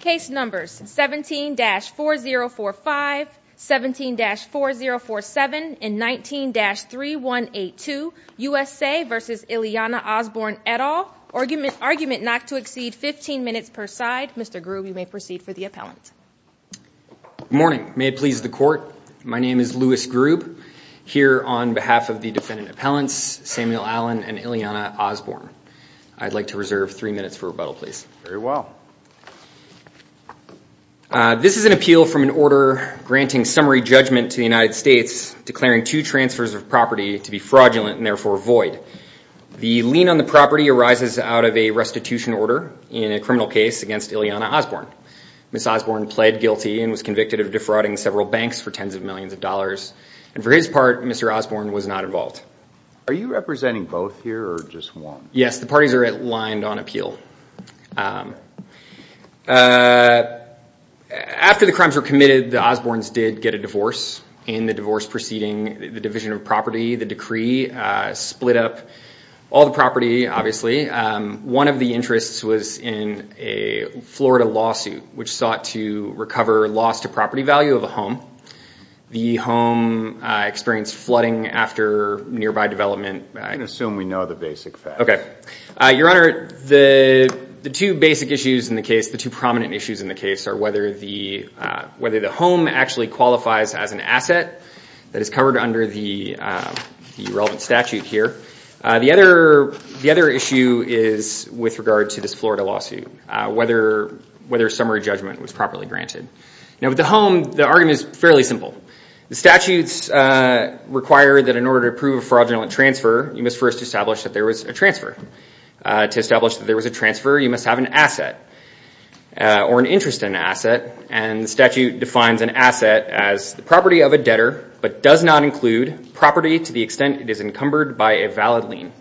Case numbers 17-4045, 17-4047, and 19-3182, USA v. Ileana Osborne et al. Argument not to exceed 15 minutes per side. Mr. Grube, you may proceed for the appellant. Good morning. May it please the court, my name is Louis Grube. Here on behalf of the defendant appellants, Samuel Allen and Ileana Osborne. I'd like to reserve three minutes for rebuttal, please. Very well. This is an appeal from an order granting summary judgment to the United States declaring two transfers of property to be fraudulent and therefore void. The lien on the property arises out of a restitution order in a criminal case against Ileana Osborne. Ms. Osborne pled guilty and was convicted of defrauding several banks for tens of millions of dollars. And for his part, Mr. Osborne was not involved. Are you representing both here or just one? Yes, the parties are aligned on appeal. After the crimes were committed, the Osbornes did get a divorce. In the divorce proceeding, the Division of Property, the decree, split up all the property, obviously. One of the interests was in a Florida lawsuit which sought to recover loss to property value of a home. The home experienced flooding after nearby development. I can assume we know the basic facts. Okay. Your Honor, the two basic issues in the case, the two prominent issues in the case, are whether the home actually qualifies as an asset that is covered under the relevant statute here. The other issue is with regard to this Florida lawsuit, whether summary judgment was properly granted. Now, with the home, the argument is fairly simple. The statutes require that in order to approve a fraudulent transfer, you must first establish that there was a transfer. To establish that there was a transfer, you must have an asset or an interest in an asset, and the statute defines an asset as the property of a debtor but does not include property to the extent it is encumbered by a valid lien.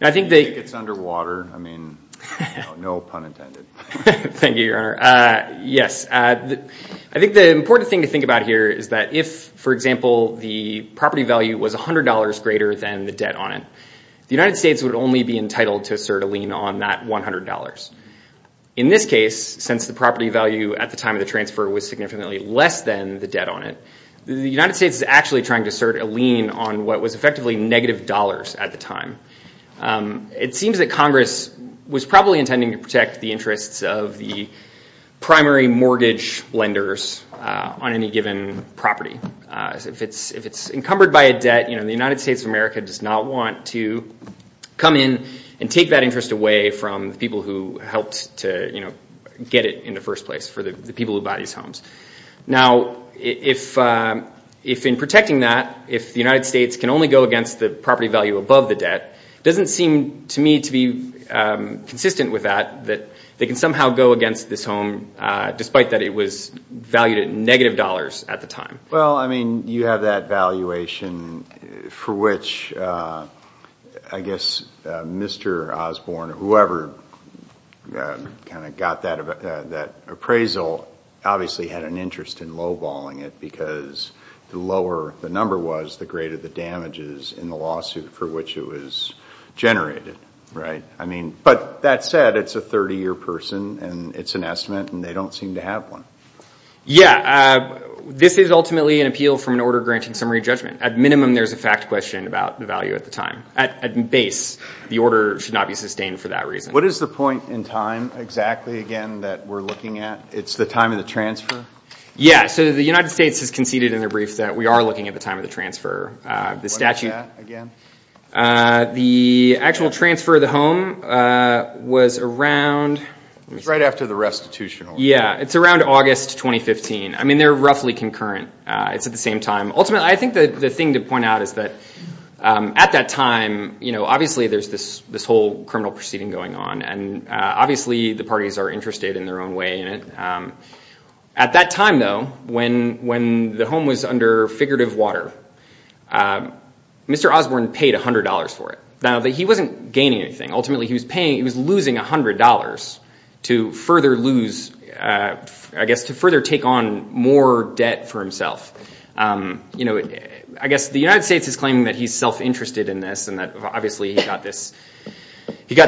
I think they- I think it's underwater. I mean, no pun intended. Thank you, Your Honor. Yes. I think the important thing to think about here is that if, for example, the property value was $100 greater than the debt on it, the United States would only be entitled to assert a lien on that $100. In this case, since the property value at the time of the transfer was significantly less than the debt on it, the United States is actually trying to assert a lien on what was effectively negative dollars at the time. It seems that Congress was probably intending to protect the interests of the primary mortgage lenders on any given property. If it's encumbered by a debt, you know, the United States of America does not want to come in and take that interest away from the people who helped to, you know, get it in the first place for the people who buy these homes. Now, if in protecting that, if the United States can only go against the property value above the debt, it doesn't seem to me to be consistent with that, that they can somehow go against this home, despite that it was valued at negative dollars at the time. Well, I mean, you have that valuation for which I guess Mr. Osborne, whoever kind of got that appraisal obviously had an interest in lowballing it because the lower the number was, the greater the damages in the lawsuit for which it was generated, right? I mean, but that said, it's a 30-year person, and it's an estimate, and they don't seem to have one. Yeah. This is ultimately an appeal from an order granting summary judgment. At minimum, there's a fact question about the value at the time. At base, the order should not be sustained for that reason. What is the point in time exactly, again, that we're looking at? It's the time of the transfer? Yeah. So the United States has conceded in their brief that we are looking at the time of the transfer. What is that again? The actual transfer of the home was around— It was right after the restitution award. Yeah. It's around August 2015. I mean, they're roughly concurrent. It's at the same time. Ultimately, I think the thing to point out is that at that time, you know, obviously there's this whole criminal proceeding going on, and obviously the parties are interested in their own way in it. At that time, though, when the home was under figurative water, Mr. Osborne paid $100 for it. Now, he wasn't gaining anything. He was losing $100 to further lose—I guess to further take on more debt for himself. You know, I guess the United States is claiming that he's self-interested in this and that obviously he got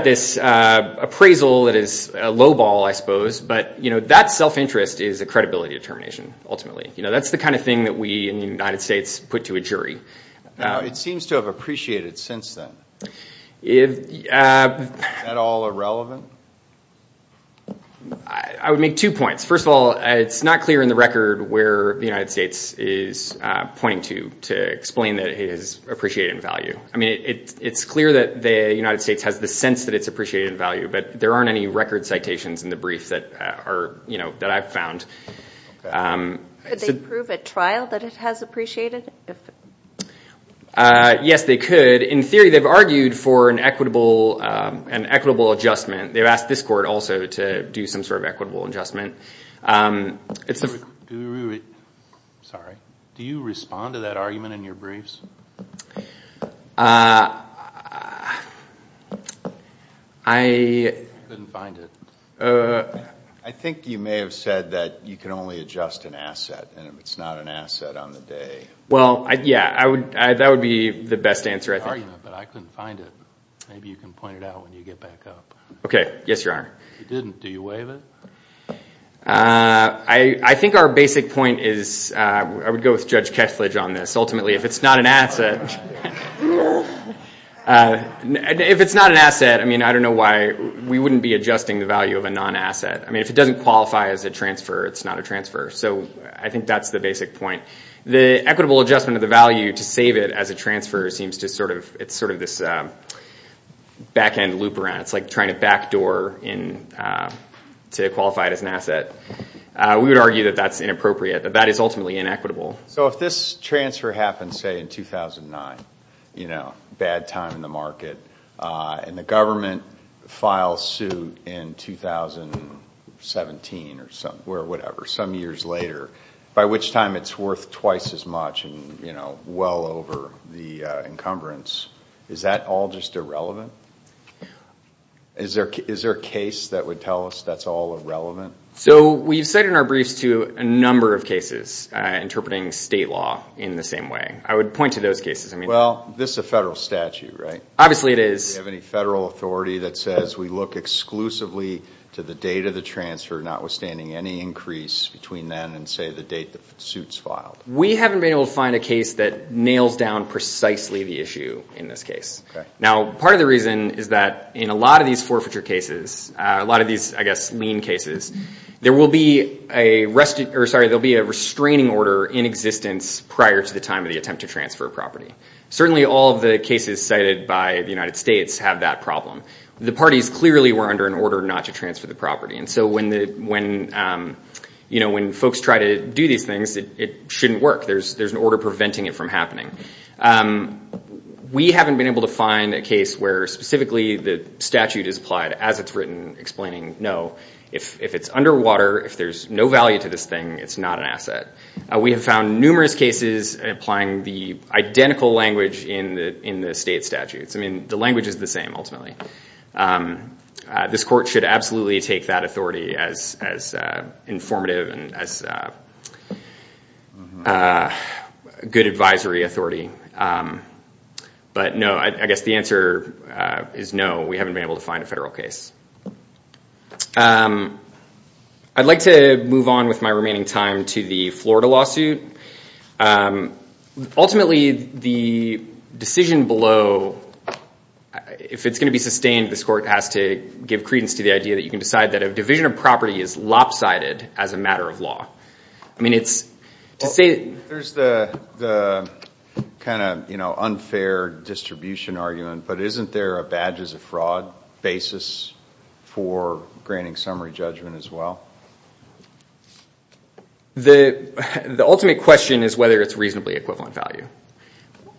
this appraisal that is lowball, I suppose, but, you know, that self-interest is a credibility determination ultimately. You know, that's the kind of thing that we in the United States put to a jury. Now, it seems to have appreciated since then. Is that all irrelevant? I would make two points. First of all, it's not clear in the record where the United States is pointing to to explain that it has appreciated in value. I mean, it's clear that the United States has the sense that it's appreciated in value, but there aren't any record citations in the brief that I've found. Could they prove at trial that it has appreciated? Yes, they could. In theory, they've argued for an equitable adjustment. They've asked this court also to do some sort of equitable adjustment. Sorry. Do you respond to that argument in your briefs? I couldn't find it. I think you may have said that you can only adjust an asset, and it's not an asset on the day. Well, yeah, that would be the best answer, I think. But I couldn't find it. Maybe you can point it out when you get back up. Okay. Yes, Your Honor. You didn't. Do you waive it? I think our basic point is I would go with Judge Ketledge on this. Ultimately, if it's not an asset, I mean, I don't know why. We wouldn't be adjusting the value of a non-asset. I mean, if it doesn't qualify as a transfer, it's not a transfer. So I think that's the basic point. The equitable adjustment of the value to save it as a transfer seems to sort of, it's sort of this back-end loop around. It's like trying to backdoor to qualify it as an asset. We would argue that that's inappropriate, that that is ultimately inequitable. So if this transfer happens, say, in 2009, you know, bad time in the market, and the government files suit in 2017 or whatever, some years later, by which time it's worth twice as much and, you know, well over the encumbrance, is that all just irrelevant? Is there a case that would tell us that's all irrelevant? So we've cited in our briefs to a number of cases interpreting state law in the same way. I would point to those cases. Well, this is a federal statute, right? Obviously it is. Do we have any federal authority that says we look exclusively to the date of the transfer, notwithstanding any increase between then and, say, the date the suit's filed? We haven't been able to find a case that nails down precisely the issue in this case. Now, part of the reason is that in a lot of these forfeiture cases, a lot of these, I guess, lien cases, there will be a restraining order in existence prior to the time of the attempt to transfer a property. Certainly all of the cases cited by the United States have that problem. The parties clearly were under an order not to transfer the property, and so when folks try to do these things, it shouldn't work. There's an order preventing it from happening. We haven't been able to find a case where specifically the statute is applied as it's written explaining, no, if it's underwater, if there's no value to this thing, it's not an asset. We have found numerous cases applying the identical language in the state statutes. I mean, the language is the same, ultimately. This court should absolutely take that authority as informative and as good advisory authority. But no, I guess the answer is no, we haven't been able to find a federal case. I'd like to move on with my remaining time to the Florida lawsuit. Ultimately, the decision below, if it's going to be sustained, this court has to give credence to the idea that you can decide that a division of property is lopsided as a matter of law. I mean, it's to say- There's the kind of unfair distribution argument, but isn't there a badges of fraud basis for granting summary judgment as well? The ultimate question is whether it's reasonably equivalent value.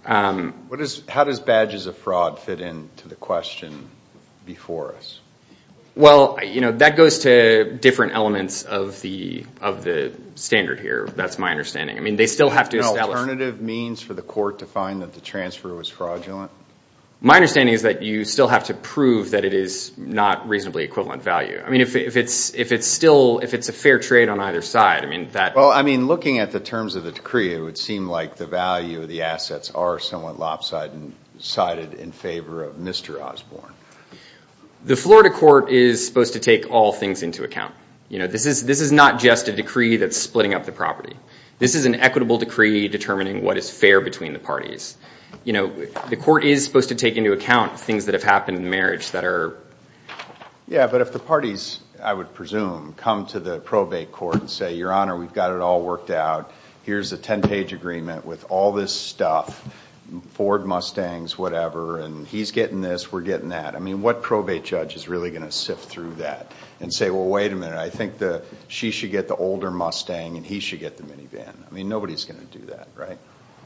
How does badges of fraud fit into the question before us? Well, that goes to different elements of the standard here, that's my understanding. I mean, they still have to establish- My understanding is that you still have to prove that it is not reasonably equivalent value. I mean, if it's a fair trade on either side- Well, I mean, looking at the terms of the decree, it would seem like the value of the assets are somewhat lopsided and sided in favor of Mr. Osborne. The Florida court is supposed to take all things into account. This is not just a decree that's splitting up the property. This is an equitable decree determining what is fair between the parties. The court is supposed to take into account things that have happened in marriage that are- Yeah, but if the parties, I would presume, come to the probate court and say, Your Honor, we've got it all worked out. Here's a 10-page agreement with all this stuff, Ford Mustangs, whatever, and he's getting this, we're getting that. I mean, what probate judge is really going to sift through that and say, Well, wait a minute, I think she should get the older Mustang and he should get the minivan. I mean, nobody's going to do that, right?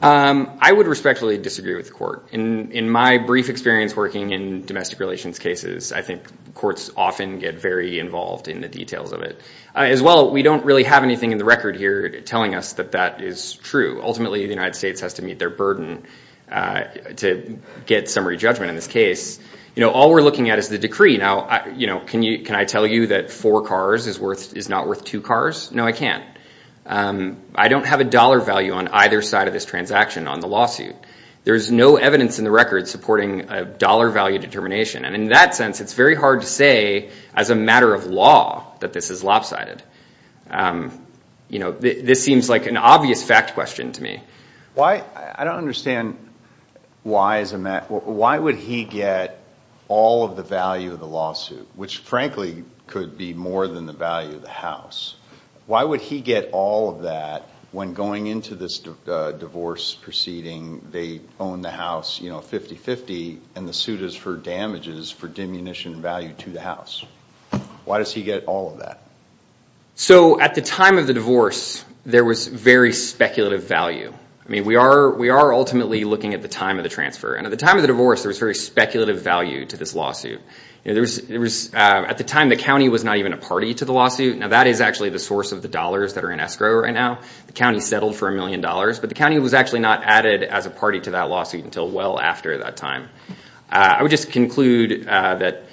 I would respectfully disagree with the court. In my brief experience working in domestic relations cases, I think courts often get very involved in the details of it. As well, we don't really have anything in the record here telling us that that is true. Ultimately, the United States has to meet their burden to get summary judgment in this case. All we're looking at is the decree. Now, can I tell you that four cars is not worth two cars? No, I can't. I don't have a dollar value on either side of this transaction on the lawsuit. There's no evidence in the record supporting a dollar value determination. In that sense, it's very hard to say as a matter of law that this is lopsided. This seems like an obvious fact question to me. I don't understand why would he get all of the value of the lawsuit, which frankly could be more than the value of the house. Why would he get all of that when going into this divorce proceeding, they own the house 50-50 and the suit is for damages for diminution of value to the house? Why does he get all of that? At the time of the divorce, there was very speculative value. We are ultimately looking at the time of the transfer. At the time of the divorce, there was very speculative value to this lawsuit. At the time, the county was not even a party to the lawsuit. Now, that is actually the source of the dollars that are in escrow right now. The county settled for a million dollars, but the county was actually not added as a party to that lawsuit until well after that time. I would just conclude that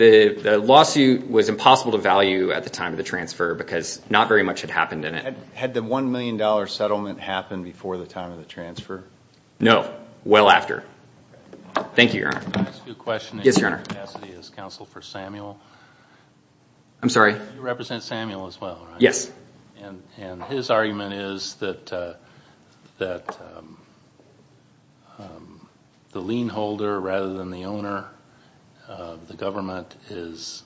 the lawsuit was impossible to value at the time of the transfer because not very much had happened in it. Had the $1 million settlement happened before the time of the transfer? No, well after. Thank you, Your Honor. Can I ask you a question in your capacity as counsel for Samuel? I'm sorry? You represent Samuel as well, right? Yes. His argument is that the lien holder rather than the owner of the government is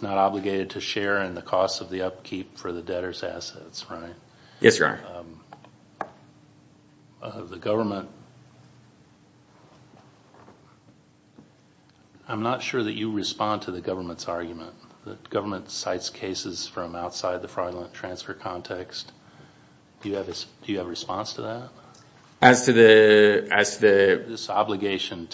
not obligated to share in the cost of the upkeep for the debtor's assets, right? Yes, Your Honor. I'm not sure that you respond to the government's argument. The government cites cases from outside the fraudulent transfer context. Do you have a response to that? As to this obligation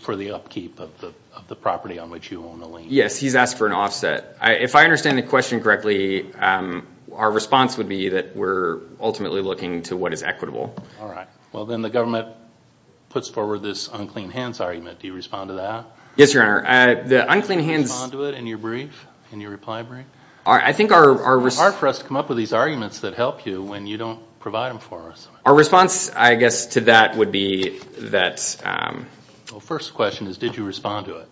for the upkeep of the property on which you own the lien? Yes, he's asked for an offset. If I understand the question correctly, our response would be that we're ultimately looking to what is equitable. All right. Well, then the government puts forward this unclean hands argument. Do you respond to that? Yes, Your Honor. The unclean hands— Do you respond to it in your brief, in your reply brief? I think our— It's hard for us to come up with these arguments that help you when you don't provide them for us. Our response, I guess, to that would be that— Well, first question is did you respond to it?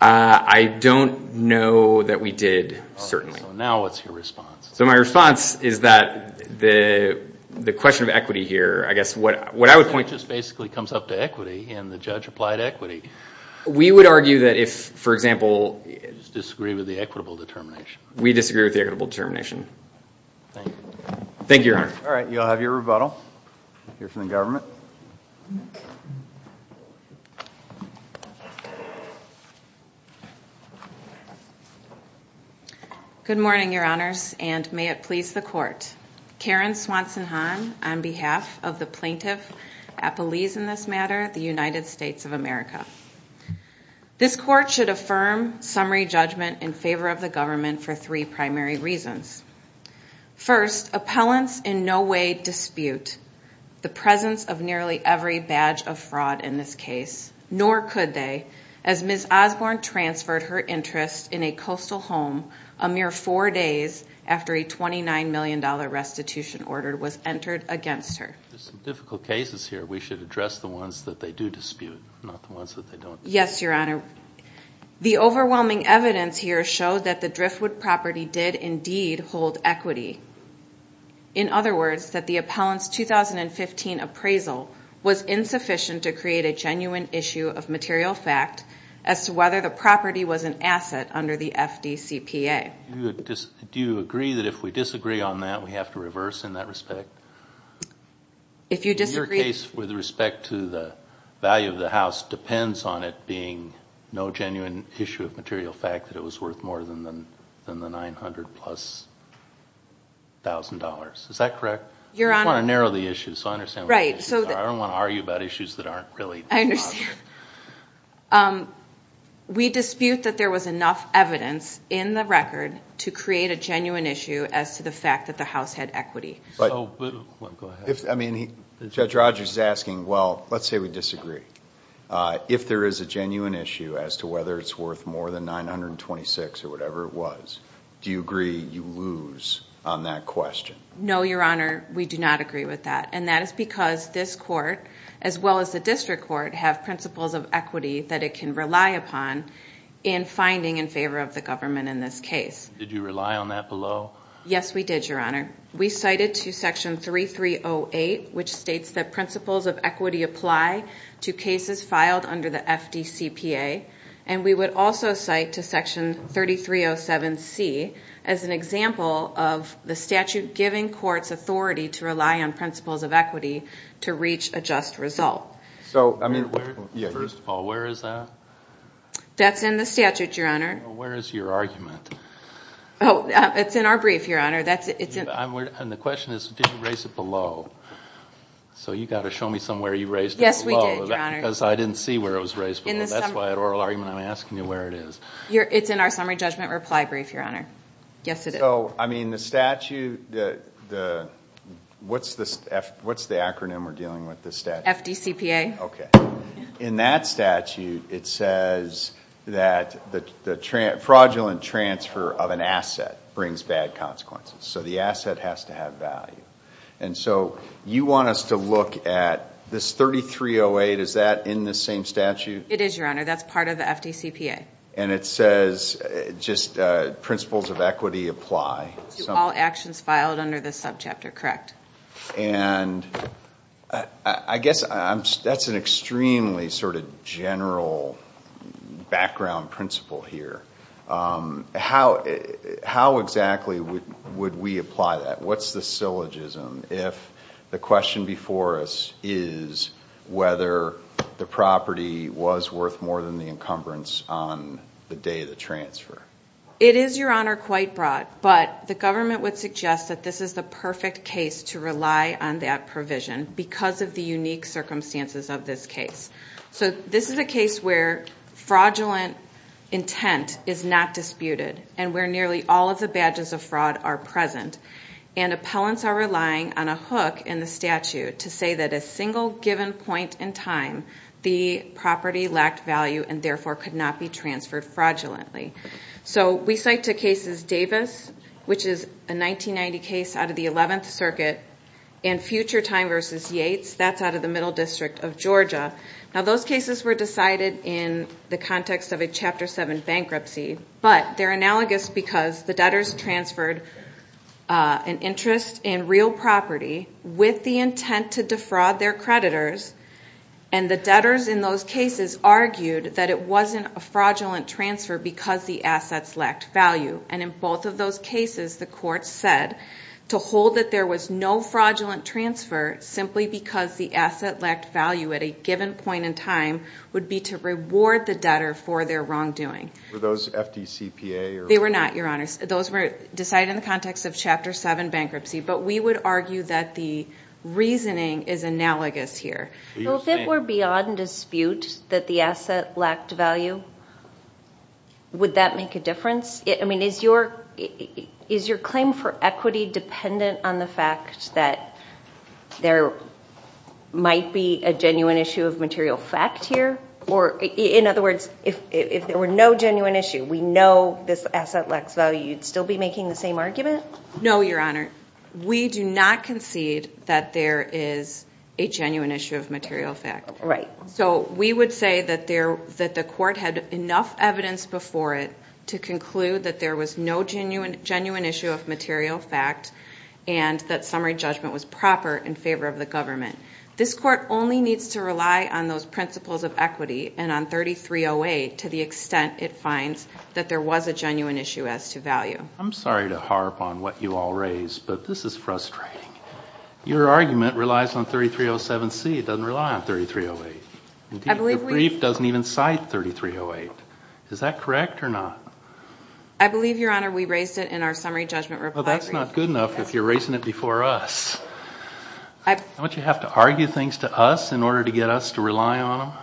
I don't know that we did, certainly. All right. So now what's your response? So my response is that the question of equity here, I guess what I would point— Equity just basically comes up to equity, and the judge applied equity. We would argue that if, for example— Disagree with the equitable determination. We disagree with the equitable determination. Thank you. Thank you, Your Honor. All right. You'll have your rebuttal. Good morning, Your Honors, and may it please the Court. Karen Swanson Hahn on behalf of the plaintiff, Appellees in this matter, the United States of America. This Court should affirm summary judgment in favor of the government for three primary reasons. First, appellants in no way dispute the presence of nearly every badge of fraud in this case, nor could they, as Ms. Osborne transferred her interest in a coastal home a mere four days after a $29 million restitution order was entered against her. There's some difficult cases here. We should address the ones that they do dispute, not the ones that they don't. Yes, Your Honor. The overwhelming evidence here showed that the Driftwood property did indeed hold equity. In other words, that the appellant's 2015 appraisal was insufficient to create a genuine issue of material fact as to whether the property was an asset under the FDCPA. Do you agree that if we disagree on that, we have to reverse in that respect? If you disagree... Your case with respect to the value of the house depends on it being no genuine issue of material fact that it was worth more than the $900,000-plus. Is that correct? Your Honor... I just want to narrow the issue, so I understand what you're saying. I don't want to argue about issues that aren't really... I understand. We dispute that there was enough evidence in the record to create a genuine issue as to the fact that the house had equity. Go ahead. Judge Rogers is asking, well, let's say we disagree. If there is a genuine issue as to whether it's worth more than $926,000 or whatever it was, do you agree you lose on that question? No, Your Honor. We do not agree with that. And that is because this court, as well as the district court, have principles of equity that it can rely upon in finding in favor of the government in this case. Did you rely on that below? Yes, we did, Your Honor. We cited to Section 3308, which states that principles of equity apply to cases filed under the FDCPA, and we would also cite to Section 3307C as an example of the statute giving courts authority to rely on principles of equity to reach a just result. First of all, where is that? That's in the statute, Your Honor. Where is your argument? It's in our brief, Your Honor. And the question is, did you raise it below? So you've got to show me somewhere you raised it below. Yes, we did, Your Honor. Because I didn't see where it was raised below. That's why at oral argument I'm asking you where it is. It's in our summary judgment reply brief, Your Honor. Yes, it is. So, I mean, the statute, what's the acronym we're dealing with in this statute? FDCPA. Okay. In that statute, it says that the fraudulent transfer of an asset brings bad consequences. So the asset has to have value. And so you want us to look at this 3308, is that in the same statute? It is, Your Honor. That's part of the FDCPA. And it says just principles of equity apply. To all actions filed under this subchapter, correct. And I guess that's an extremely sort of general background principle here. How exactly would we apply that? What's the syllogism if the question before us is whether the property was worth more than the encumbrance on the day of the transfer? It is, Your Honor, quite broad. But the government would suggest that this is the perfect case to rely on that provision because of the unique circumstances of this case. So this is a case where fraudulent intent is not disputed and where nearly all of the badges of fraud are present. And appellants are relying on a hook in the statute to say that a single given point in time the property lacked value and therefore could not be transferred fraudulently. So we cite two cases, Davis, which is a 1990 case out of the 11th Circuit, and Future Time v. Yates. That's out of the Middle District of Georgia. Now, those cases were decided in the context of a Chapter 7 bankruptcy. But they're analogous because the debtors transferred an interest in real property with the intent to defraud their creditors. And the debtors in those cases argued that it wasn't a fraudulent transfer because the assets lacked value. And in both of those cases, the court said to hold that there was no fraudulent transfer simply because the asset lacked value at a given point in time would be to reward the debtor for their wrongdoing. Were those FDCPA? They were not, Your Honor. Those were decided in the context of Chapter 7 bankruptcy. But we would argue that the reasoning is analogous here. So if it were beyond dispute that the asset lacked value, would that make a difference? I mean, is your claim for equity dependent on the fact that there might be a genuine issue of material fact here? Or in other words, if there were no genuine issue, we know this asset lacks value, you'd still be making the same argument? No, Your Honor. We do not concede that there is a genuine issue of material fact. Right. So we would say that the court had enough evidence before it to conclude that there was no genuine issue of material fact and that summary judgment was proper in favor of the government. This court only needs to rely on those principles of equity and on 3308 to the extent it finds that there was a genuine issue as to value. I'm sorry to harp on what you all raised, but this is frustrating. Your argument relies on 3307C. It doesn't rely on 3308. The brief doesn't even cite 3308. Is that correct or not? I believe, Your Honor, we raised it in our summary judgment reply brief. Well, that's not good enough if you're raising it before us. Don't you have to argue things to us in order to get us to rely on them?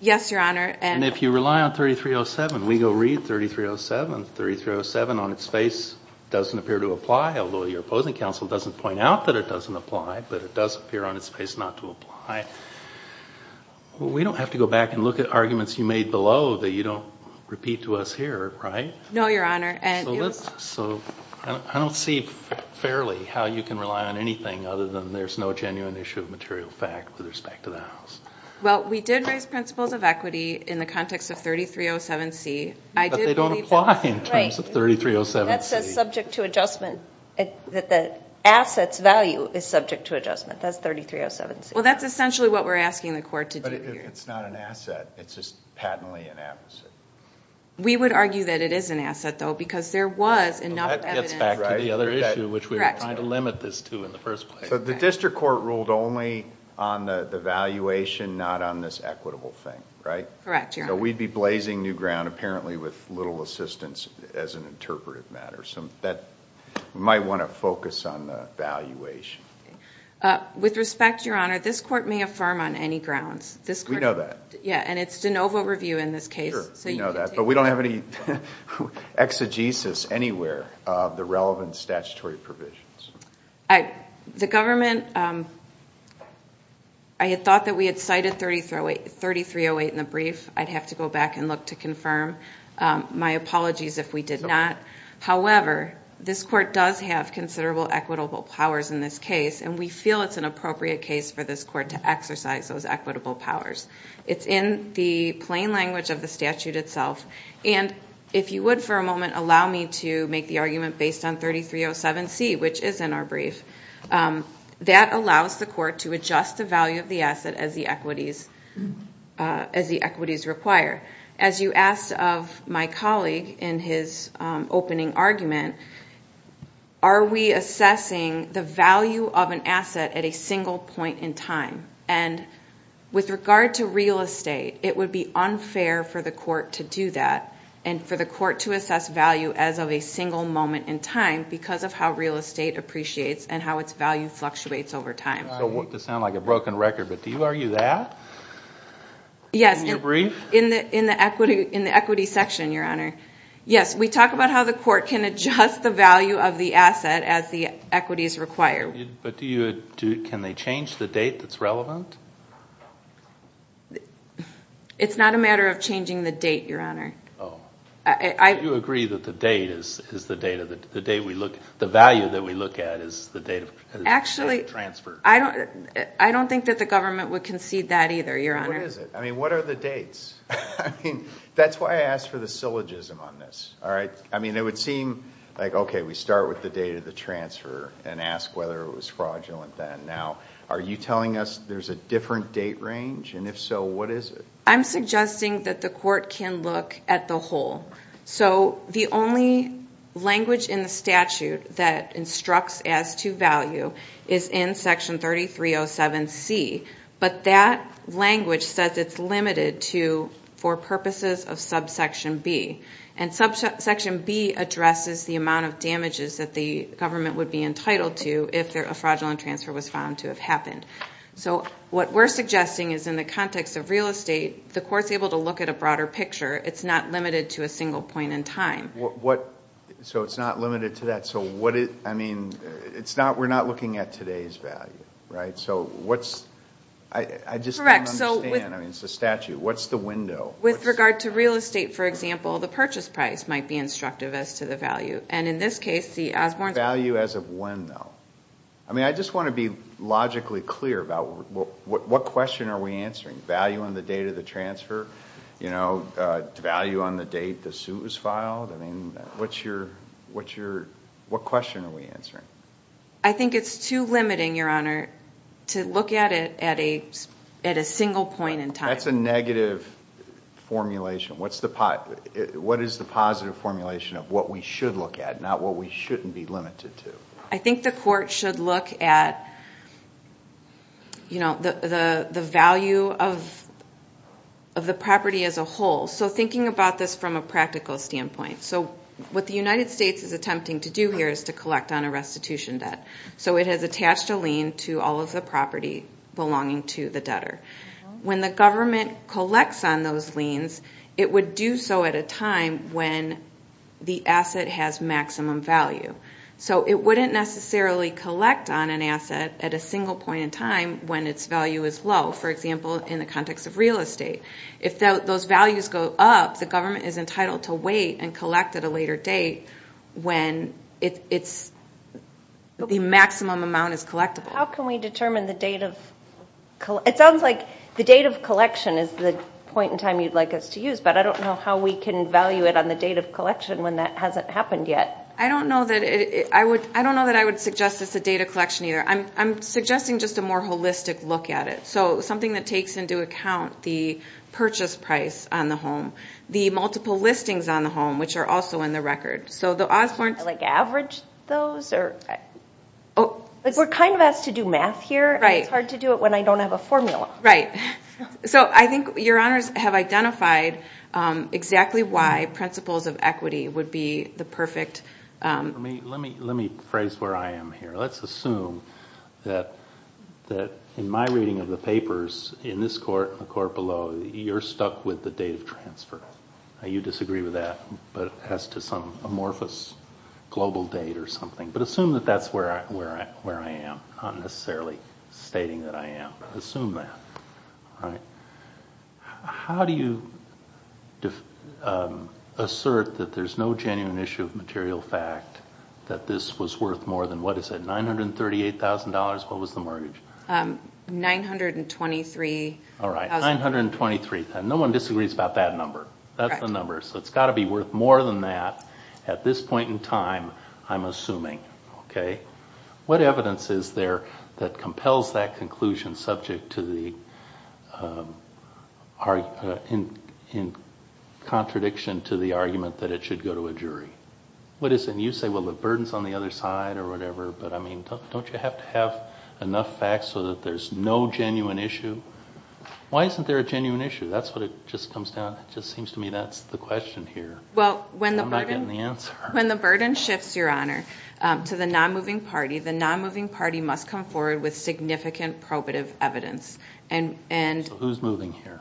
Yes, Your Honor. And if you rely on 3307, we go read 3307. 3307 on its face doesn't appear to apply, although your opposing counsel doesn't point out that it doesn't apply, but it does appear on its face not to apply. We don't have to go back and look at arguments you made below that you don't repeat to us here, right? No, Your Honor. So I don't see fairly how you can rely on anything other than there's no genuine issue of material fact with respect to that. Well, we did raise principles of equity in the context of 3307C. But they don't apply in terms of 3307C. That says subject to adjustment, that the asset's value is subject to adjustment. That's 3307C. Well, that's essentially what we're asking the court to do here. But if it's not an asset, it's just patently an asset. We would argue that it is an asset, though, because there was enough evidence... That gets back to the other issue, which we were trying to limit this to in the first place. So the district court ruled only on the valuation, not on this equitable thing, right? Correct, Your Honor. So we'd be blazing new ground apparently with little assistance as an interpretive matter. So we might want to focus on the valuation. With respect, Your Honor, this court may affirm on any grounds. We know that. Yeah, and it's de novo review in this case. Sure, we know that. But we don't have any exegesis anywhere of the relevant statutory provisions. The government... I had thought that we had cited 3308 in the brief. I'd have to go back and look to confirm. My apologies if we did not. However, this court does have considerable equitable powers in this case. And we feel it's an appropriate case for this court to exercise those equitable powers. It's in the plain language of the statute itself. And if you would for a moment allow me to make the argument based on 3307C, which is in our brief. That allows the court to adjust the value of the asset as the equities require. As you asked of my colleague in his opening argument, are we assessing the value of an asset at a single point in time? And with regard to real estate, it would be unfair for the court to do that and for the court to assess value as of a single moment in time because of how real estate appreciates and how its value fluctuates over time. I hate to sound like a broken record, but do you argue that in your brief? Yes, in the equity section, Your Honor. Yes, we talk about how the court can adjust the value of the asset as the equities require. But can they change the date that's relevant? It's not a matter of changing the date, Your Honor. You agree that the value that we look at is the date of the transfer? Actually, I don't think that the government would concede that either, Your Honor. What is it? I mean, what are the dates? That's why I asked for the syllogism on this. I mean, it would seem like, okay, we start with the date of the transfer and ask whether it was fraudulent then. Now, are you telling us there's a different date range? And if so, what is it? I'm suggesting that the court can look at the whole. So the only language in the statute that instructs as to value is in Section 3307C, but that language says it's limited to for purposes of subsection B. And subsection B addresses the amount of damages that the government would be entitled to if a fraudulent transfer was found to have happened. So what we're suggesting is in the context of real estate, the court's able to look at a broader picture. It's not limited to a single point in time. So it's not limited to that. I mean, we're not looking at today's value, right? I just don't understand. I mean, it's a statute. What's the window? With regard to real estate, for example, the purchase price might be instructive as to the value. And in this case, the Osborne... The value as of when, though? I mean, I just want to be logically clear about what question are we answering? Value on the date of the transfer? Value on the date the suit was filed? I mean, what question are we answering? I think it's too limiting, Your Honor, to look at it at a single point in time. That's a negative formulation. What is the positive formulation of what we should look at, not what we shouldn't be limited to? I think the court should look at the value of the property as a whole. So thinking about this from a practical standpoint. So what the United States is attempting to do here is to collect on a restitution debt. So it has attached a lien to all of the property belonging to the debtor. When the government collects on those liens, it would do so at a time when the asset has maximum value. So it wouldn't necessarily collect on an asset at a single point in time when its value is low, for example, in the context of real estate. If those values go up, the government is entitled to wait and collect at a later date when the maximum amount is collectible. How can we determine the date of collection? It sounds like the date of collection is the point in time you'd like us to use, but I don't know how we can value it on the date of collection when that hasn't happened yet. I don't know that I would suggest it's a date of collection either. I'm suggesting just a more holistic look at it, so something that takes into account the purchase price on the home, the multiple listings on the home, which are also in the record. Like average those? We're kind of asked to do math here, and it's hard to do it when I don't have a formula. Right. So I think your honors have identified exactly why principles of equity would be the perfect... Let me phrase where I am here. Let's assume that in my reading of the papers, in this court and the court below, you're stuck with the date of transfer. You disagree with that as to some amorphous global date or something. But assume that that's where I am. I'm not necessarily stating that I am. Assume that. How do you assert that there's no genuine issue of material fact that this was worth more than, what is it, $938,000? What was the mortgage? $923,000. All right, $923,000. No one disagrees about that number. That's the number. So it's got to be worth more than that at this point in time, I'm assuming. What evidence is there that compels that conclusion in contradiction to the argument that it should go to a jury? What is it? You say, well, the burden's on the other side or whatever, but don't you have to have enough facts so that there's no genuine issue? Why isn't there a genuine issue? That's what it just comes down to. It just seems to me that's the question here. I'm not getting the answer. When the burden shifts, Your Honor, to the non-moving party, the non-moving party must come forward with significant probative evidence. So who's moving here?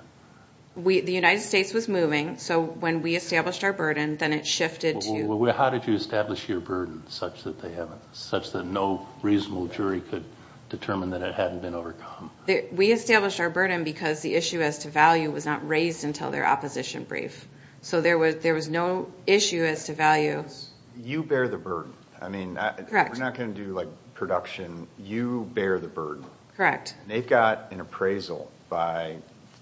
The United States was moving, so when we established our burden, then it shifted to you. How did you establish your burden such that no reasonable jury could determine that it hadn't been overcome? We established our burden because the issue as to value was not raised until their opposition brief. So there was no issue as to value. You bear the burden. Correct. We're not going to do production. You bear the burden. Correct. They've got an appraisal by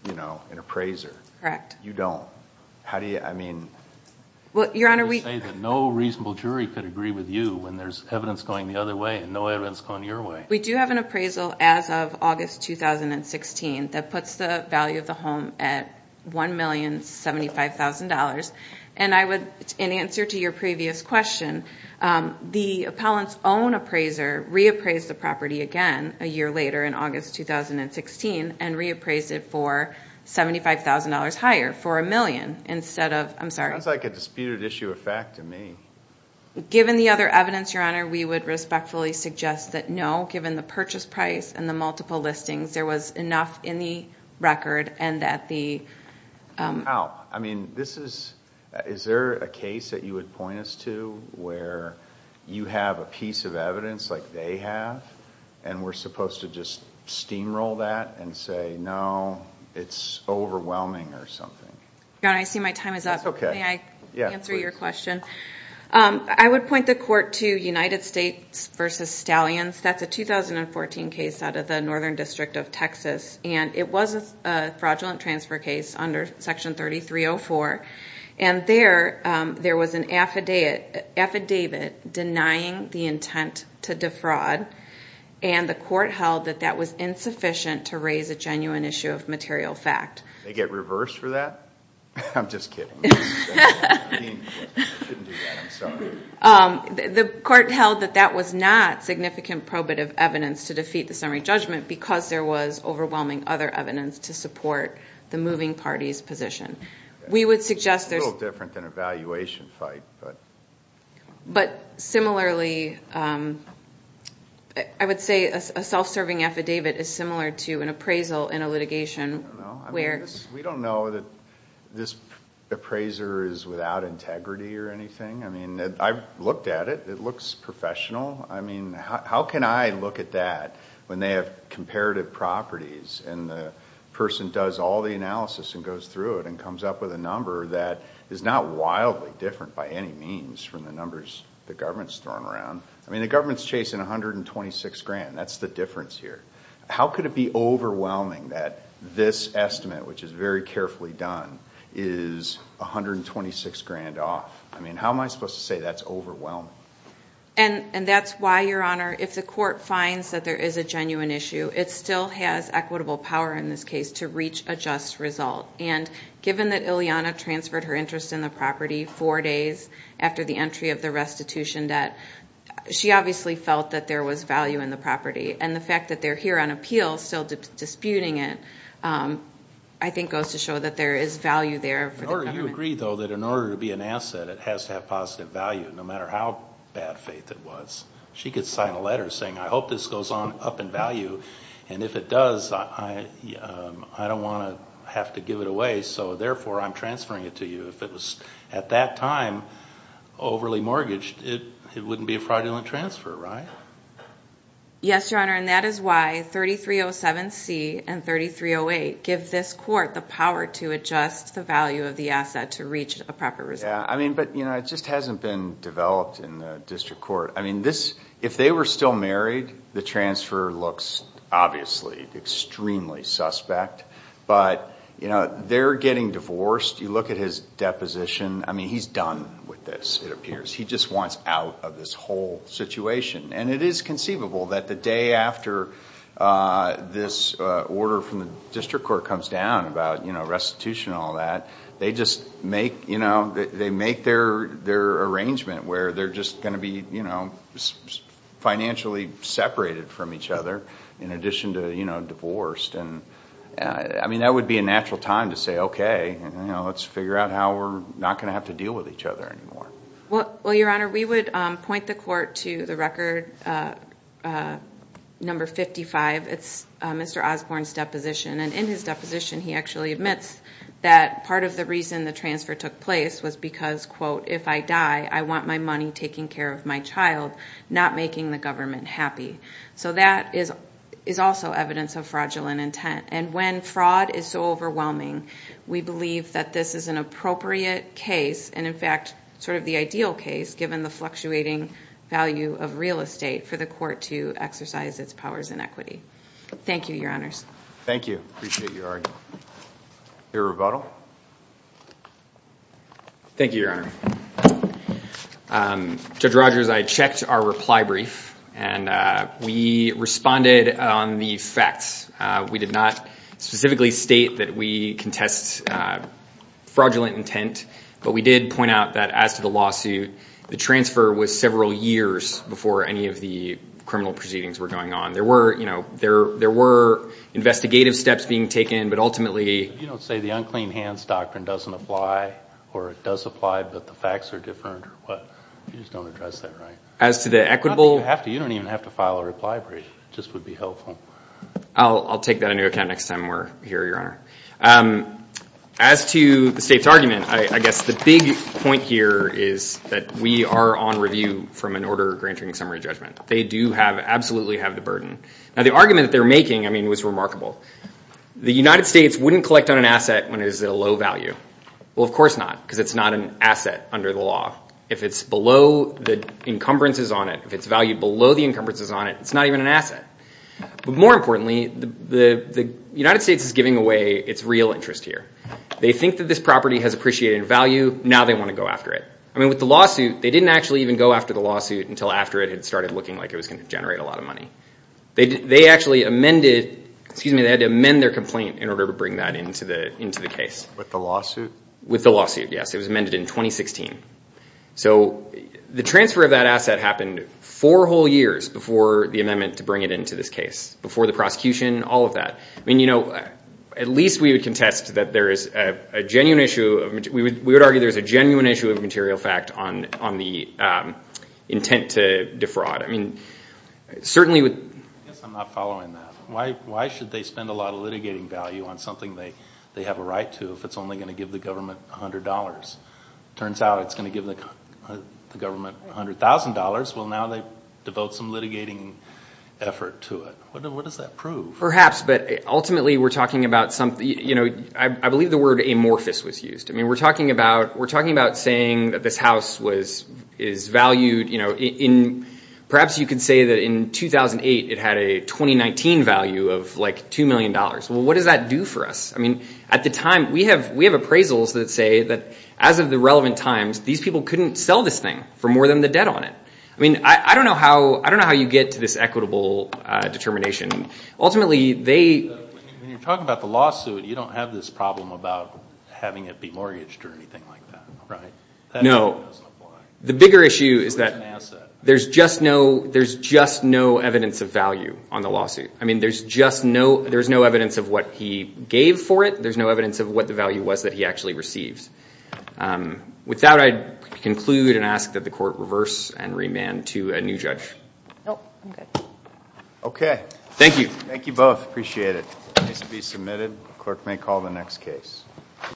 an appraiser. Correct. You don't. How do you, I mean... Well, Your Honor, we... You say that no reasonable jury could agree with you when there's evidence going the other way and no evidence going your way. We do have an appraisal as of August 2016 that puts the value of the home at $1,075,000. And I would, in answer to your previous question, the appellant's own appraiser reappraised the property again a year later in August 2016 and reappraised it for $75,000 higher, for a million, instead of, I'm sorry... Sounds like a disputed issue of fact to me. Given the other evidence, Your Honor, we would respectfully suggest that no, given the purchase price and the multiple listings, there was enough in the record and that the... How? I mean, this is... Is there a case that you would point us to where you have a piece of evidence like they have and we're supposed to just steamroll that and say, no, it's overwhelming or something? Your Honor, I see my time is up. May I answer your question? I would point the court to United States v. Stallions. That's a 2014 case out of the Northern District of Texas and it was a fraudulent transfer case under Section 3304. And there was an affidavit denying the intent to defraud and the court held that that was insufficient to raise a genuine issue of material fact. They get reversed for that? I'm just kidding. I shouldn't do that. I'm sorry. The court held that that was not significant probative evidence to defeat the summary judgment because there was overwhelming other evidence to support the moving party's position. It's a little different than an evaluation fight. But similarly, I would say a self-serving affidavit is similar to an appraisal in a litigation where... the appraiser is without integrity or anything. I mean, I've looked at it. It looks professional. I mean, how can I look at that when they have comparative properties and the person does all the analysis and goes through it and comes up with a number that is not wildly different by any means from the numbers the government's throwing around? I mean, the government's chasing $126,000. That's the difference here. How could it be overwhelming that this estimate, which is very carefully done, is $126,000 off? I mean, how am I supposed to say that's overwhelming? And that's why, Your Honor, if the court finds that there is a genuine issue, it still has equitable power in this case to reach a just result. And given that Ileana transferred her interest in the property four days after the entry of the restitution debt, she obviously felt that there was value in the property. And the fact that they're here on appeal still disputing it I think goes to show that there is value there for the government. In order to be an asset, it has to have positive value, no matter how bad faith it was. She could sign a letter saying, I hope this goes on up in value, and if it does, I don't want to have to give it away, so therefore I'm transferring it to you. If it was at that time overly mortgaged, it wouldn't be a fraudulent transfer, right? Yes, Your Honor, and that is why 3307C and 3308 give this court the power to adjust the value of the asset to reach a proper result. But it just hasn't been developed in the district court. If they were still married, the transfer looks obviously extremely suspect. But they're getting divorced. You look at his deposition. I mean, he's done with this, it appears. He just wants out of this whole situation. It is conceivable that the day after this order from the district court comes down about restitution and all that, they make their arrangement where they're just going to be financially separated from each other in addition to divorced. I mean, that would be a natural time to say, okay, let's figure out how we're not going to have to deal with each other anymore. Well, Your Honor, we would point the court to the record number 55. It's Mr. Osborne's deposition. And in his deposition he actually admits that part of the reason the transfer took place was because, quote, if I die I want my money taking care of my child, not making the government happy. So that is also evidence of fraudulent intent. And when fraud is so overwhelming, we believe that this is an appropriate case and, in fact, sort of the ideal case, given the fluctuating value of real estate, for the court to exercise its powers in equity. Thank you, Your Honors. Thank you. Appreciate your argument. Your rebuttal. Thank you, Your Honor. Judge Rogers, I checked our reply brief, and we responded on the facts. We did not specifically state that we contest fraudulent intent, but we did point out that, as to the lawsuit, the transfer was several years before any of the criminal proceedings were going on. There were investigative steps being taken, but ultimately If you don't say the unclean hands doctrine doesn't apply, or it does apply but the facts are different, you just don't address that right. As to the equitable You don't even have to file a reply brief. It just would be helpful. I'll take that into account next time we're here, Your Honor. As to the state's argument, I guess the big point here is that we are on review from an order granting summary judgment. They do absolutely have the burden. Now, the argument that they're making, I mean, was remarkable. The United States wouldn't collect on an asset when it was at a low value. Well, of course not, because it's not an asset under the law. If it's below the encumbrances on it, if it's valued below the encumbrances on it, it's not even an asset. But more importantly, the United States is giving away its real interest here. They think that this property has appreciated value. Now they want to go after it. I mean, with the lawsuit, they didn't actually even go after the lawsuit until after it had started looking like it was going to generate a lot of money. They actually amended Excuse me, they had to amend their complaint in order to bring that into the case. With the lawsuit? With the lawsuit, yes. It was amended in 2016. So the transfer of that asset happened four whole years before the amendment to bring it into this case, before the prosecution, all of that. I mean, you know, at least we would contest that there is a genuine issue of material fact on the intent to defraud. I mean, certainly with I guess I'm not following that. Why should they spend a lot of litigating value on something they have a right to if it's only going to give the government $100? Turns out it's going to give the government $100,000. Well, now they devote some litigating effort to it. What does that prove? Perhaps, but ultimately we're talking about something I believe the word amorphous was used. I mean, we're talking about saying that this house is valued Perhaps you could say that in 2008 it had a 2019 value of like $2 million. Well, what does that do for us? I mean, at the time, we have appraisals that say that as of the relevant times, these people couldn't sell this thing for more than the debt on it. I mean, I don't know how you get to this equitable determination. Ultimately, they... When you're talking about the lawsuit, you don't have this problem about having it be mortgaged or anything like that, right? No. The bigger issue is that there's just no evidence of value on the lawsuit. I mean, there's no evidence of what he gave for it. There's no evidence of what the value was that he actually received. With that, I conclude and ask that the court reverse and remand to a new judge. Nope, I'm good. Okay. Thank you. Thank you both. Appreciate it. Case to be submitted. Clerk may call the next case.